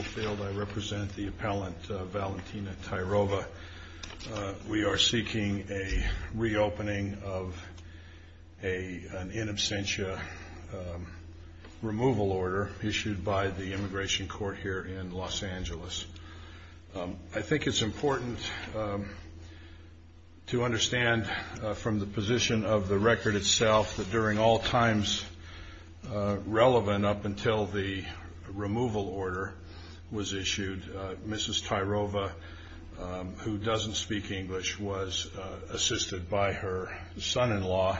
I represent the appellant Valentina Tairova. We are seeking a reopening of an in absentia removal order issued by the immigration court here in Los Angeles. I think it's important to understand from the position of the record itself that during all times relevant up until the removal order was issued, Mrs. Tairova, who doesn't speak English, was assisted by her son-in-law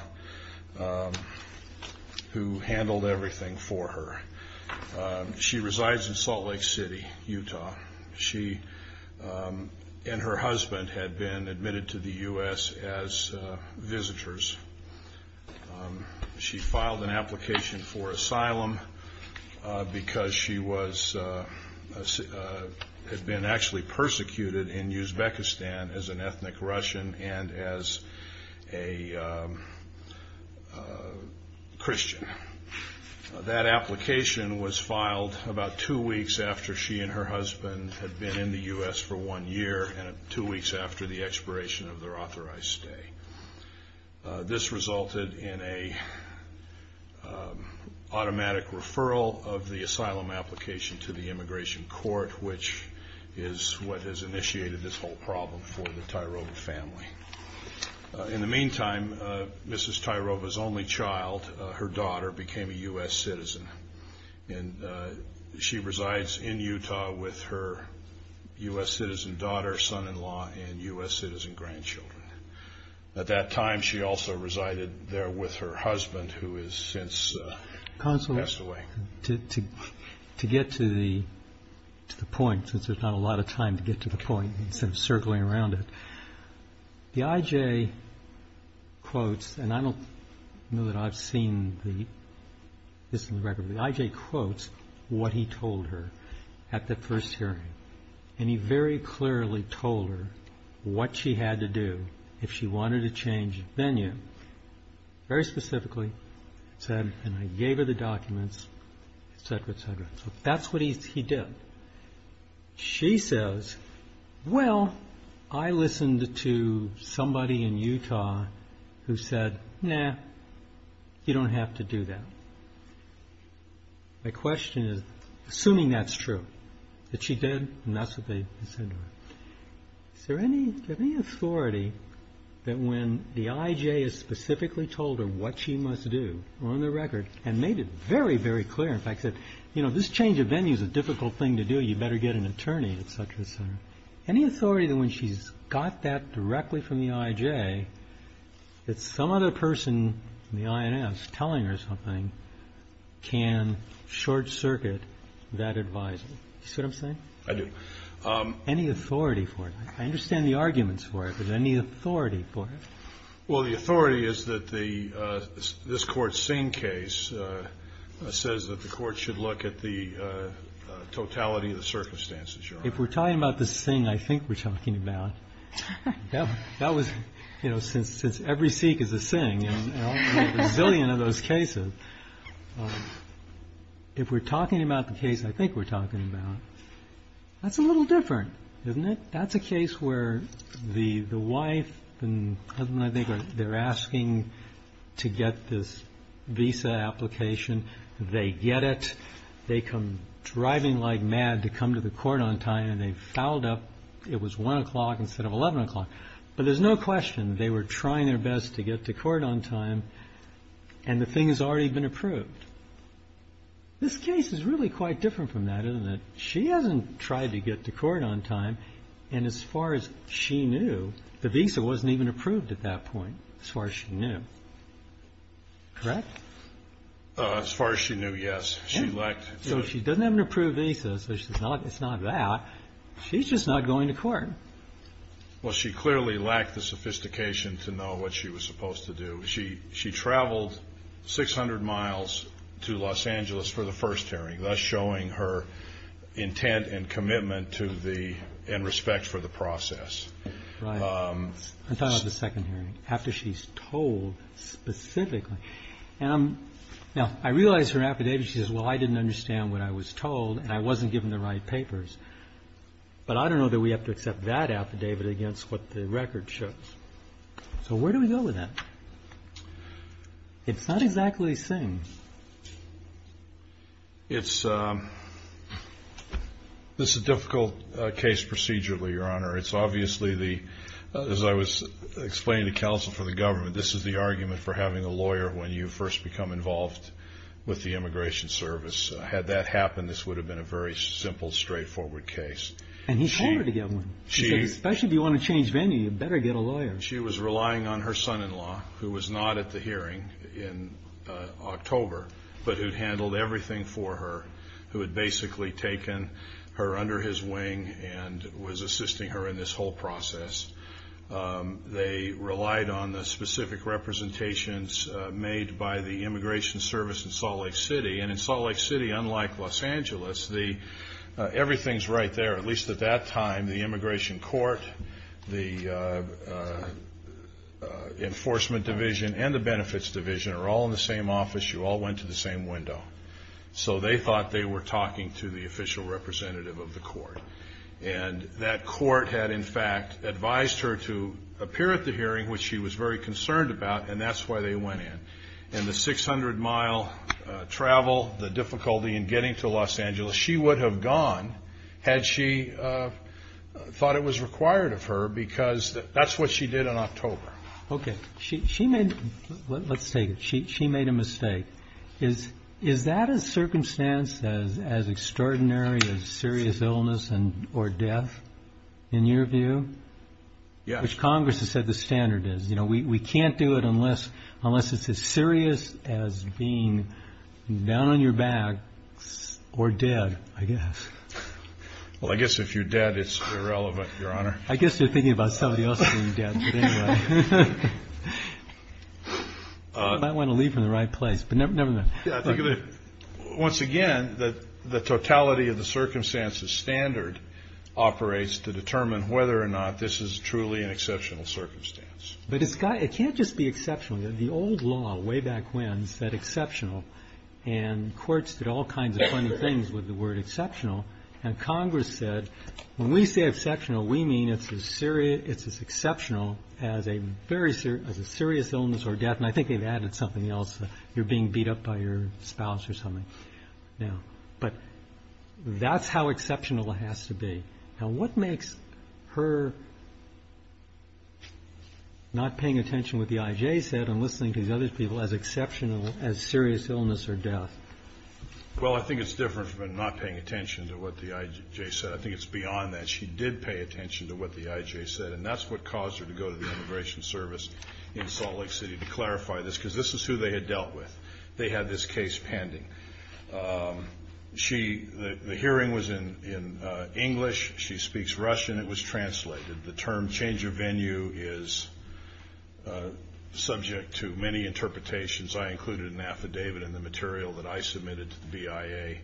who handled everything for her. She resides in Salt Lake City, Utah. She and her husband had been admitted to the U.S. as visitors. She filed an application for asylum because she had been actually persecuted in Uzbekistan as an ethnic Russian and as a Christian. That application was filed about two weeks after she and her husband had been in the U.S. for one year and two weeks after the expiration of their authorized stay. This resulted in an automatic referral of the asylum application to the immigration court, which is what has initiated this whole problem for the Tairova family. In the meantime, Mrs. Tairova's only child, her daughter, became a U.S. citizen. She resides in Utah with her U.S. citizen daughter, son-in-law, and U.S. citizen grandchildren. At that time, she also resided there with her husband, who has since passed away. To get to the point, since there's not a lot of time to get to the point instead of circling around it, the IJ quotes, and I don't know that I've seen this in the record, but the IJ quotes what he told her at the first hearing. He very clearly told her what she had to do if she wanted to change venue. Very specifically, he said, and I gave her the documents, etc., etc. That's what he did. She says, well, I listened to somebody in Utah who said, nah, you don't have to do that. My question is, assuming that's true, that she did, and that's what they said to her, is there any authority that when the IJ has specifically told her what she must do, on the record, and made it very, very clear, in fact, that this change of venue is a difficult thing to do, you better get an attorney, etc., etc., any authority that when she's got that can short-circuit that advice? You see what I'm saying? I do. Any authority for it? I understand the arguments for it, but any authority for it? Well, the authority is that this court's Singh case says that the court should look at the totality of the circumstances, Your Honor. If we're talking about the Singh I think we're talking about, that was, you know, since every Sikh is a Singh, there's a zillion of those cases. If we're talking about the case I think we're talking about, that's a little different, isn't it? That's a case where the wife and husband, I think, they're asking to get this visa application. They get it. They come driving like mad to come to the court on time, and they fouled up. It was 1 o'clock instead of to get to court on time, and the thing has already been approved. This case is really quite different from that, isn't it? She hasn't tried to get to court on time, and as far as she knew, the visa wasn't even approved at that point, as far as she knew. Correct? As far as she knew, yes. She lacked... So she doesn't have an approved visa, so it's not that. She's just not going to court. Well, she clearly lacked the sophistication to know what she was supposed to do. She traveled 600 miles to Los Angeles for the first hearing, thus showing her intent and commitment to the, and respect for the process. Right. I'm talking about the second hearing, after she's told specifically. Now, I realize her affidavit, she says, well, I didn't understand what I was told, and I wasn't given the right to give that affidavit against what the record shows. So where do we go with that? It's not exactly the same. It's, this is a difficult case procedurally, Your Honor. It's obviously the, as I was explaining to counsel for the government, this is the argument for having a lawyer when you first become involved with the Immigration Service. Had that happened, this would have been a very simple, straightforward case. And he told her to get one. He said, especially if you want to change venue, you better get a lawyer. She was relying on her son-in-law, who was not at the hearing in October, but who handled everything for her, who had basically taken her under his wing and was assisting her in this whole process. They relied on the specific representations made by the Immigration Service in Salt Lake City. And in Salt Lake City, unlike Los Angeles, the, everything's right there. At least at that time, the Immigration Court, the Enforcement Division, and the Benefits Division are all in the same office. You all went to the same window. So they thought they were talking to the official representative of the court. And that court had, in fact, advised her to appear at the hearing, which she was very concerned about, and that's why they went in. And the 600-mile travel, the difficulty in getting to Los Angeles, she would have gone had she thought it was required of her, because that's what she did in October. Okay. She made, let's take it, she made a mistake. Is that a circumstance as extraordinary as serious illness or death, in your view? Yes. Which Congress has said the standard is. You know, we can't do it unless it's as serious as being down on your back or dead, I guess. Well, I guess if you're dead, it's irrelevant, Your Honor. I guess you're thinking about somebody else being dead, but anyway. I might want to leave from the right place, but never mind. Yeah, I think of it, once again, the totality of the circumstances standard operates to is truly an exceptional circumstance. But it can't just be exceptional. The old law, way back when, said exceptional, and courts did all kinds of funny things with the word exceptional, and Congress said, when we say exceptional, we mean it's as exceptional as a serious illness or death, and I think they've added something else, you're being beat up by your spouse or something. But that's how exceptional it has to be. Now, what makes her not paying attention to what the IJ said and listening to these other people as exceptional as serious illness or death? Well, I think it's different from her not paying attention to what the IJ said. I think it's beyond that. She did pay attention to what the IJ said, and that's what caused her to go to the Immigration Service in Salt Lake City to clarify this, because this is who they had dealt with. They had this case pending. The hearing was in English, she speaks Russian, it was translated. The term change of venue is subject to many interpretations. I included an affidavit in the material that I submitted to the BIA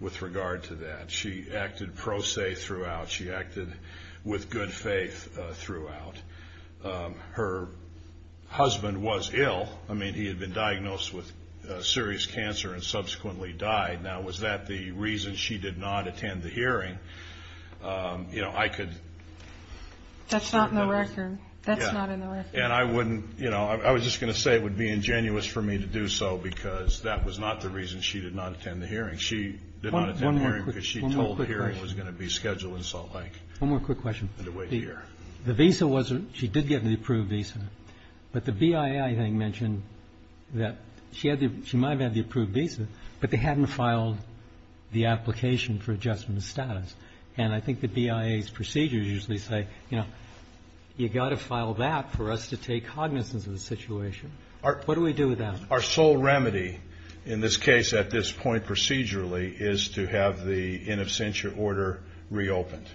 with regard to that. She acted pro se throughout. She acted with good faith throughout. Her husband was ill. I mean, he had been diagnosed with serious cancer and subsequently died. Now, was that the reason she did not attend the hearing? You know, I could... That's not in the record. That's not in the record. And I wouldn't, you know, I was just going to say it would be ingenuous for me to do so, because that was not the reason she did not attend the hearing. She did not attend the hearing because she told the hearing was going to be scheduled in Salt Lake. One more quick question. The visa wasn't, she did get an approved visa. But the BIA, I think, mentioned that she might have had the approved visa, but they hadn't filed the application for adjustment of status. And I think the BIA's procedures usually say, you know, you've got to file that for us to take cognizance of the situation. What do we do with that? Our sole remedy in this case at this point procedurally is to have the in absentia order reopened.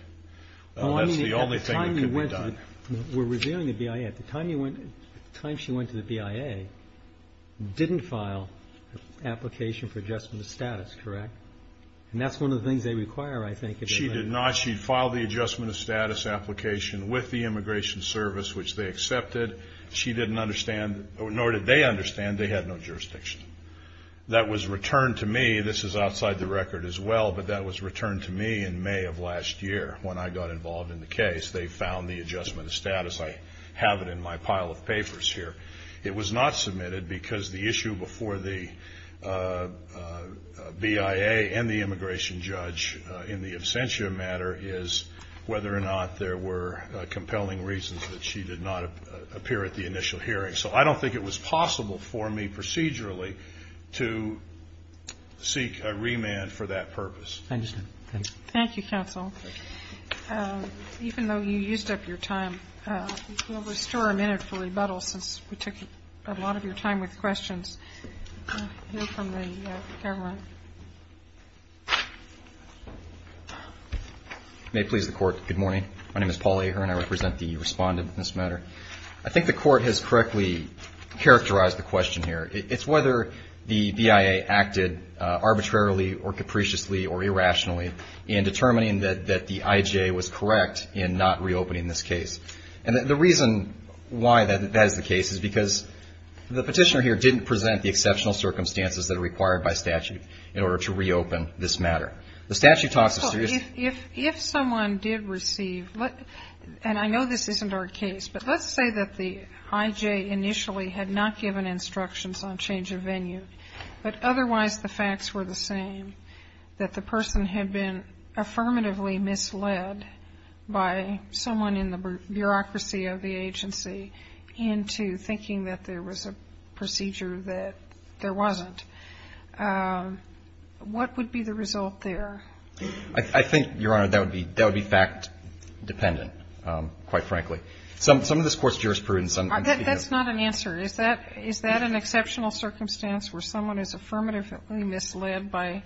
That's the only thing that could be done. We're reviewing the BIA. At the time she went to the BIA, didn't file an application for adjustment of status, correct? And that's one of the things they require, I think. She did not. She filed the adjustment of status application with the Immigration Service, which they accepted. She didn't understand, nor did they understand they had no jurisdiction. That was returned to me. Maybe this is outside the record as well, but that was returned to me in May of last year when I got involved in the case. They found the adjustment of status. I have it in my pile of papers here. It was not submitted because the issue before the BIA and the immigration judge in the absentia matter is whether or not there were compelling reasons that she did not appear at the initial hearing. So I don't think it was possible for me procedurally to seek a remand for that purpose. Thank you, counsel. Even though you used up your time, we'll restore a minute for rebuttal since we took a lot of your time with questions. We'll hear from the government. May it please the Court, good morning. My name is Paul Ahern. I represent the respondent in this matter. I think the Court has correctly characterized the question here. It's whether the BIA acted arbitrarily or capriciously or irrationally in determining that the IJ was correct in not reopening this case. And the reason why that is the case is because the Petitioner here didn't present the exceptional circumstances that are required by statute in order to reopen this matter. The statute talks of serious issues. And I know this isn't our case, but let's say that the IJ initially had not given instructions on change of venue, but otherwise the facts were the same, that the person had been affirmatively misled by someone in the bureaucracy of the agency into thinking that there was a procedure that there wasn't. What would be the result there? I think, Your Honor, that would be fact-dependent, quite frankly. Some of this Court's jurisprudence. That's not an answer. Is that an exceptional circumstance where someone is affirmatively misled by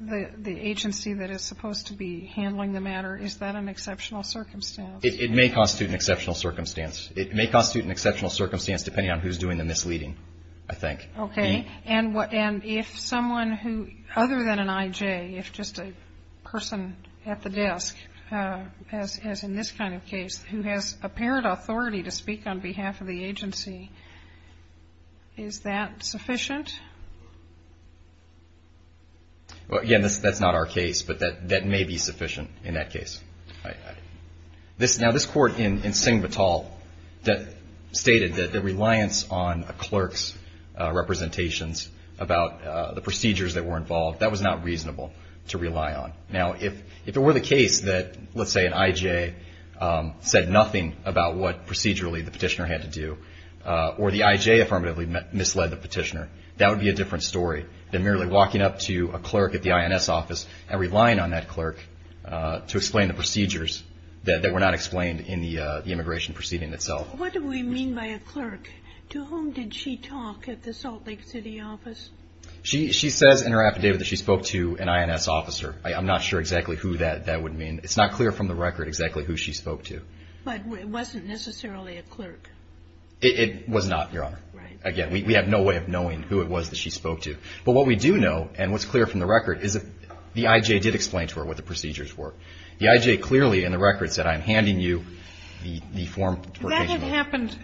the agency that is supposed to be handling the matter? Is that an exceptional circumstance? It may constitute an exceptional circumstance. It may constitute an exceptional circumstance depending on who's doing the misleading, I think. Okay. And if someone who, other than an IJ, if just a person at the desk, as in this kind of case, who has apparent authority to speak on behalf of the agency, is that sufficient? Well, again, that's not our case, but that may be sufficient in that case. Now, this Court in Singbatal stated that the reliance on a clerk's representations about the procedures that were involved, that was not reasonable to rely on. Now, if it were the case that, let's say, an IJ said nothing about what procedurally the petitioner had to do, or the IJ affirmatively misled the petitioner, that would be a different story than merely walking up to a clerk at the INS office and relying on that clerk to explain the procedures that were not explained in the immigration proceeding itself. What do we mean by a clerk? To whom did she talk at the Salt Lake City office? She says in her affidavit that she spoke to an INS officer. I'm not sure exactly who that would mean. It's not clear from the record exactly who she spoke to. But it wasn't necessarily a clerk. It was not, Your Honor. Right. Again, we have no way of knowing who it was that she spoke to. But what we do know, and what's clear from the record, is that the IJ did explain to her what the procedures were. The IJ clearly in the record said, I'm handing you the form. That had happened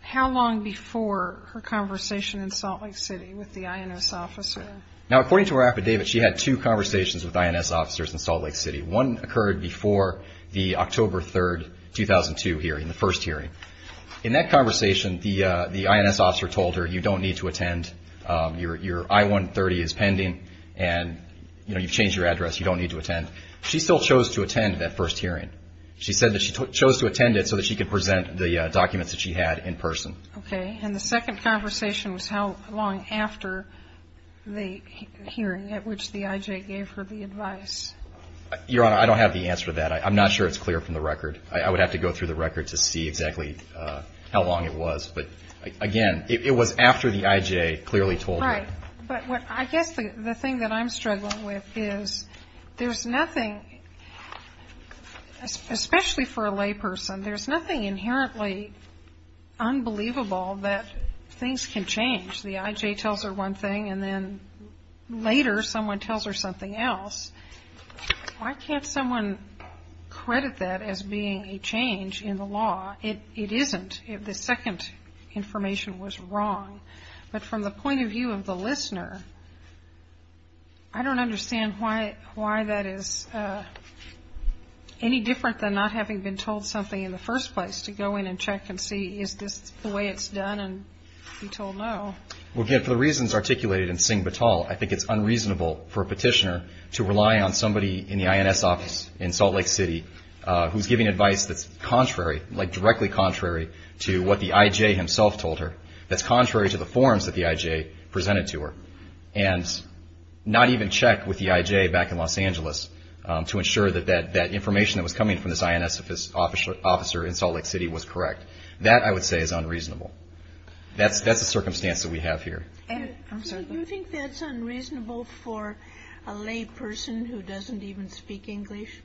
how long before her conversation in Salt Lake City with the INS officer? Now, according to her affidavit, she had two conversations with INS officers in Salt Lake City. One occurred before the October 3, 2002 hearing, the first hearing. In that conversation, the INS officer told her, you don't need to attend. Your I-130 is pending, and, you know, you've changed your address. You don't need to attend. She still chose to attend that first hearing. She said that she chose to attend it so that she could present the documents that she had in person. Okay. And the second conversation was how long after the hearing at which the IJ gave her the advice? Your Honor, I don't have the answer to that. I'm not sure it's clear from the record. I would have to go through the record to see exactly how long it was. But, again, it was after the IJ clearly told her. Right. But I guess the thing that I'm struggling with is there's nothing, especially for a layperson, there's nothing inherently unbelievable that things can change. The IJ tells her one thing, and then later someone tells her something else. Why can't someone credit that as being a change in the law? It isn't. The second information was wrong. But from the point of view of the listener, I don't understand why that is any different than not having been told something in the first place, to go in and check and see is this the way it's done and be told no. Well, again, for the reasons articulated in Singh Batal, I think it's unreasonable for a petitioner to rely on somebody in the INS office in Salt Lake City who's giving advice that's contrary, like directly contrary to what the IJ himself told her, that's contrary to the forms that the IJ presented to her, and not even check with the IJ back in Los Angeles to ensure that that information that was coming from this INS officer in Salt Lake City was correct. That, I would say, is unreasonable. That's the circumstance that we have here. Do you think that's unreasonable for a layperson who doesn't even speak English?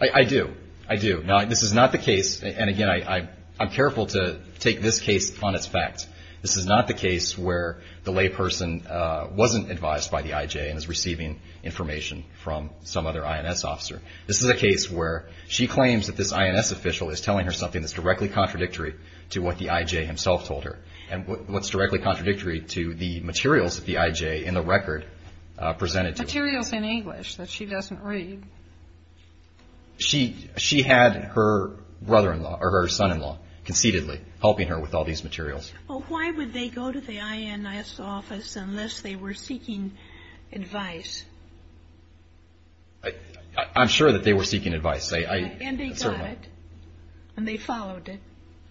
I do. I do. Now, this is not the case, and again, I'm careful to take this case on its facts. This is not the case where the layperson wasn't advised by the IJ and is receiving information from some other INS officer. This is a case where she claims that this INS official is telling her something that's directly contradictory to what the IJ himself told her. And what's directly contradictory to the materials that the IJ in the record presented to her. Materials in English that she doesn't read. She had her brother-in-law, or her son-in-law, conceitedly helping her with all these materials. Well, why would they go to the INS office unless they were seeking advice? I'm sure that they were seeking advice. And they got it, and they followed it.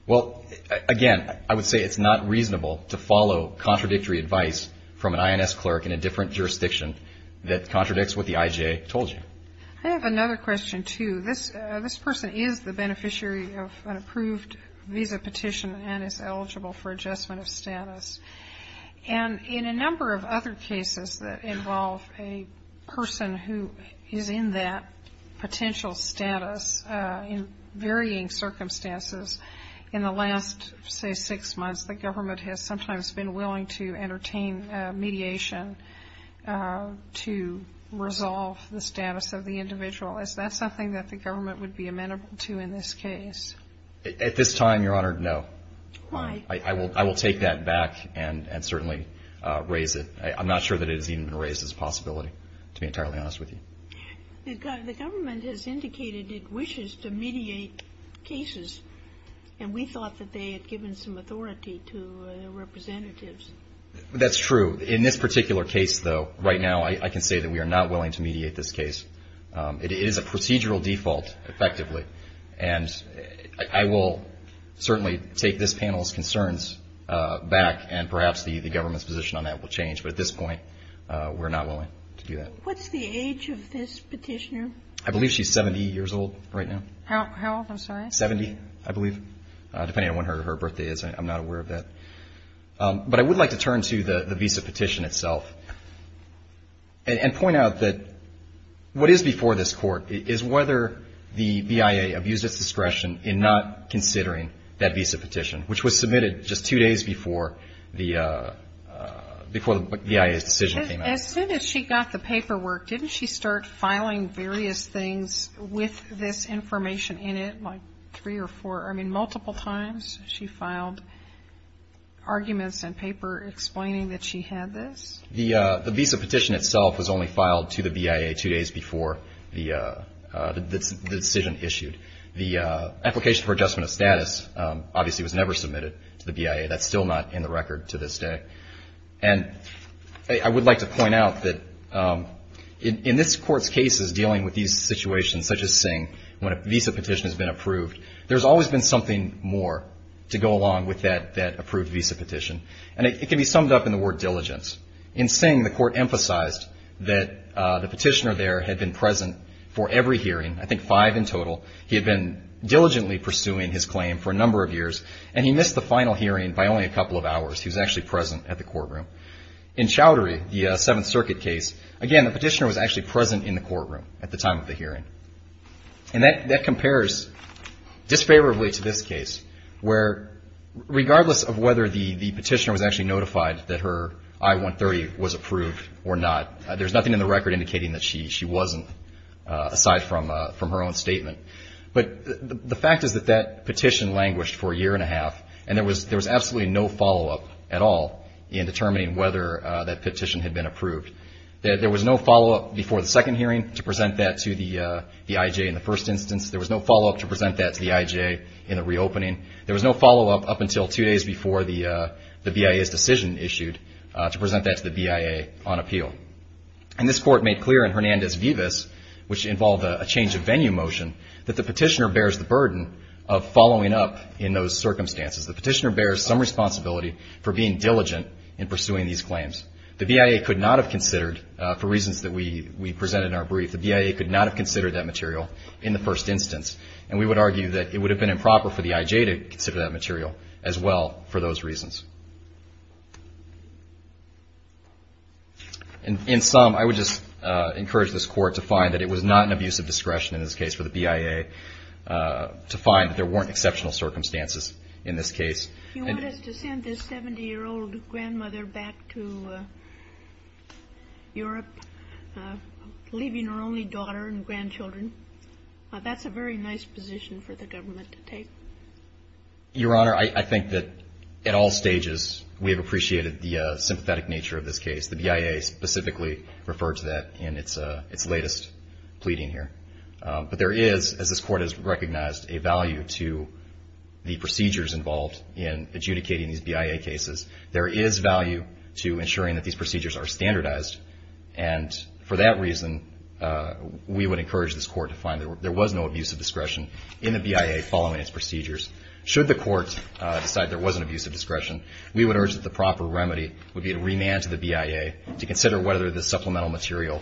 Well, again, I would say it's not reasonable to follow contradictory advice from an INS clerk in a different jurisdiction that contradicts what the IJ told you. I have another question, too. This person is the beneficiary of an approved visa petition and is eligible for adjustment of status. And in a number of other cases that involve a person who is in that potential status in varying circumstances, in the last, say, six months, the government has sometimes been willing to entertain mediation to resolve the status of the individual. Is that something that the government would be amenable to in this case? At this time, Your Honor, no. Why? I will take that back and certainly raise it. I'm not sure that it has even been raised as a possibility, to be entirely honest with you. The government has indicated it wishes to mediate cases, and we thought that they had given some authority to their representatives. That's true. In this particular case, though, right now I can say that we are not willing to mediate this case. It is a procedural default, effectively. And I will certainly take this panel's concerns back, and perhaps the government's position on that will change. But at this point, we're not willing to do that. What's the age of this petitioner? I believe she's 70 years old right now. How old? I'm sorry. Seventy, I believe, depending on when her birthday is. I'm not aware of that. But I would like to turn to the visa petition itself and point out that what is before this Court is whether the BIA abused its discretion in not considering that visa petition, which was submitted just two days before the BIA's decision came out. As soon as she got the paperwork, didn't she start filing various things with this information in it, like three or four? I mean, multiple times she filed arguments and paper explaining that she had this? The visa petition itself was only filed to the BIA two days before the decision issued. The application for adjustment of status obviously was never submitted to the BIA. That's still not in the record to this day. And I would like to point out that in this Court's cases dealing with these situations, such as Singh, when a visa petition has been approved, there's always been something more to go along with that approved visa petition. And it can be summed up in the word diligence. In Singh, the Court emphasized that the petitioner there had been present for every hearing, I think five in total. He had been diligently pursuing his claim for a number of years, and he missed the final hearing by only a couple of hours. He was actually present at the courtroom. In Chowdhury, the Seventh Circuit case, again, the petitioner was actually present in the courtroom at the time of the hearing. And that compares disfavorably to this case, where regardless of whether the petitioner was actually notified that her I-130 was approved or not, there's nothing in the record indicating that she wasn't aside from her own statement. But the fact is that that petition languished for a year and a half, and there was absolutely no follow-up at all in determining whether that petition had been approved. There was no follow-up before the second hearing to present that to the IJ in the first instance. There was no follow-up to present that to the IJ in the reopening. There was no follow-up up until two days before the BIA's decision issued to present that to the BIA on appeal. And this Court made clear in Hernandez-Vivas, which involved a change of venue motion, that the petitioner bears the burden of following up in those circumstances. The petitioner bears some responsibility for being diligent in pursuing these claims. The BIA could not have considered, for reasons that we presented in our brief, the BIA could not have considered that material in the first instance. And we would argue that it would have been improper for the IJ to consider that material as well for those reasons. And in sum, I would just encourage this Court to find that it was not an abuse of discretion in this case for the BIA, to find that there weren't exceptional circumstances in this case. You want us to send this 70-year-old grandmother back to Europe, leaving her only daughter and grandchildren. That's a very nice position for the government to take. Your Honor, I think that at all stages we have appreciated the sympathetic nature of this case. The BIA specifically referred to that in its latest pleading here. But there is, as this Court has recognized, a value to the procedures involved in adjudicating these BIA cases. There is value to ensuring that these procedures are standardized. And for that reason, we would encourage this Court to find that there was no abuse of discretion in the BIA following its procedures. Should the Court decide there was an abuse of discretion, we would urge that the proper remedy would be to remand to the BIA to consider whether the supplemental material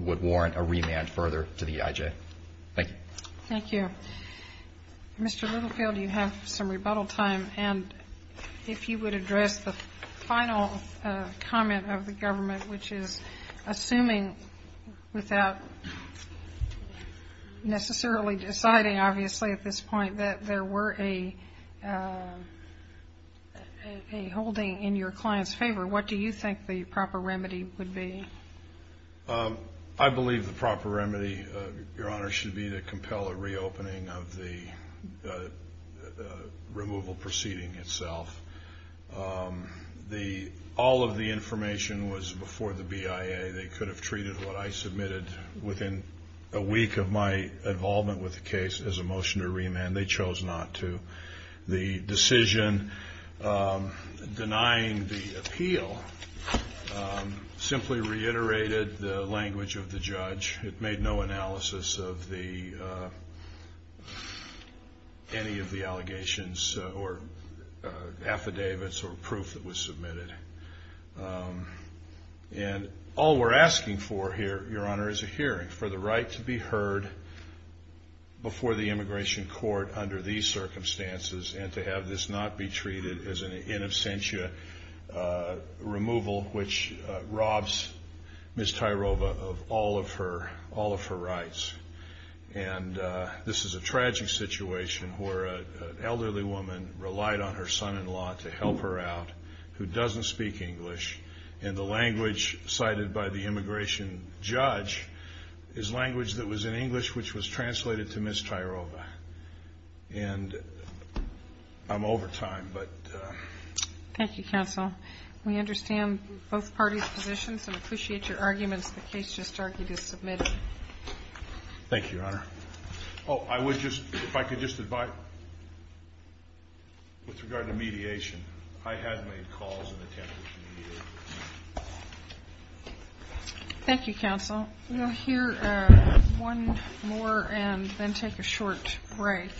would warrant a remand further to the IJ. Thank you. Thank you. Mr. Littlefield, you have some rebuttal time. And if you would address the final comment of the government, which is assuming without necessarily deciding, obviously, at this point, that there were a holding in your client's favor, what do you think the proper remedy would be? I believe the proper remedy, Your Honor, should be to compel a reopening of the removal proceeding itself. All of the information was before the BIA. They could have treated what I submitted within a week of my involvement with the case as a motion to remand. They chose not to. The decision denying the appeal simply reiterated the language of the judge. It made no analysis of any of the allegations or affidavits or proof that was submitted. And all we're asking for here, Your Honor, is a hearing for the right to be heard before the immigration court under these circumstances and to have this not be treated as an in absentia removal, which robs Ms. Tyrova of all of her rights. And this is a tragic situation where an elderly woman relied on her son-in-law to help her out who doesn't speak English. And the language cited by the immigration judge is language that was in English which was translated to Ms. Tyrova. And I'm over time, but... Thank you, counsel. We understand both parties' positions and appreciate your arguments. The case just argued is submitted. Thank you, Your Honor. Oh, I would just, if I could just advise... With regard to mediation, I had made calls and attempted to mediate. Thank you, counsel. We'll hear one more and then take a short break.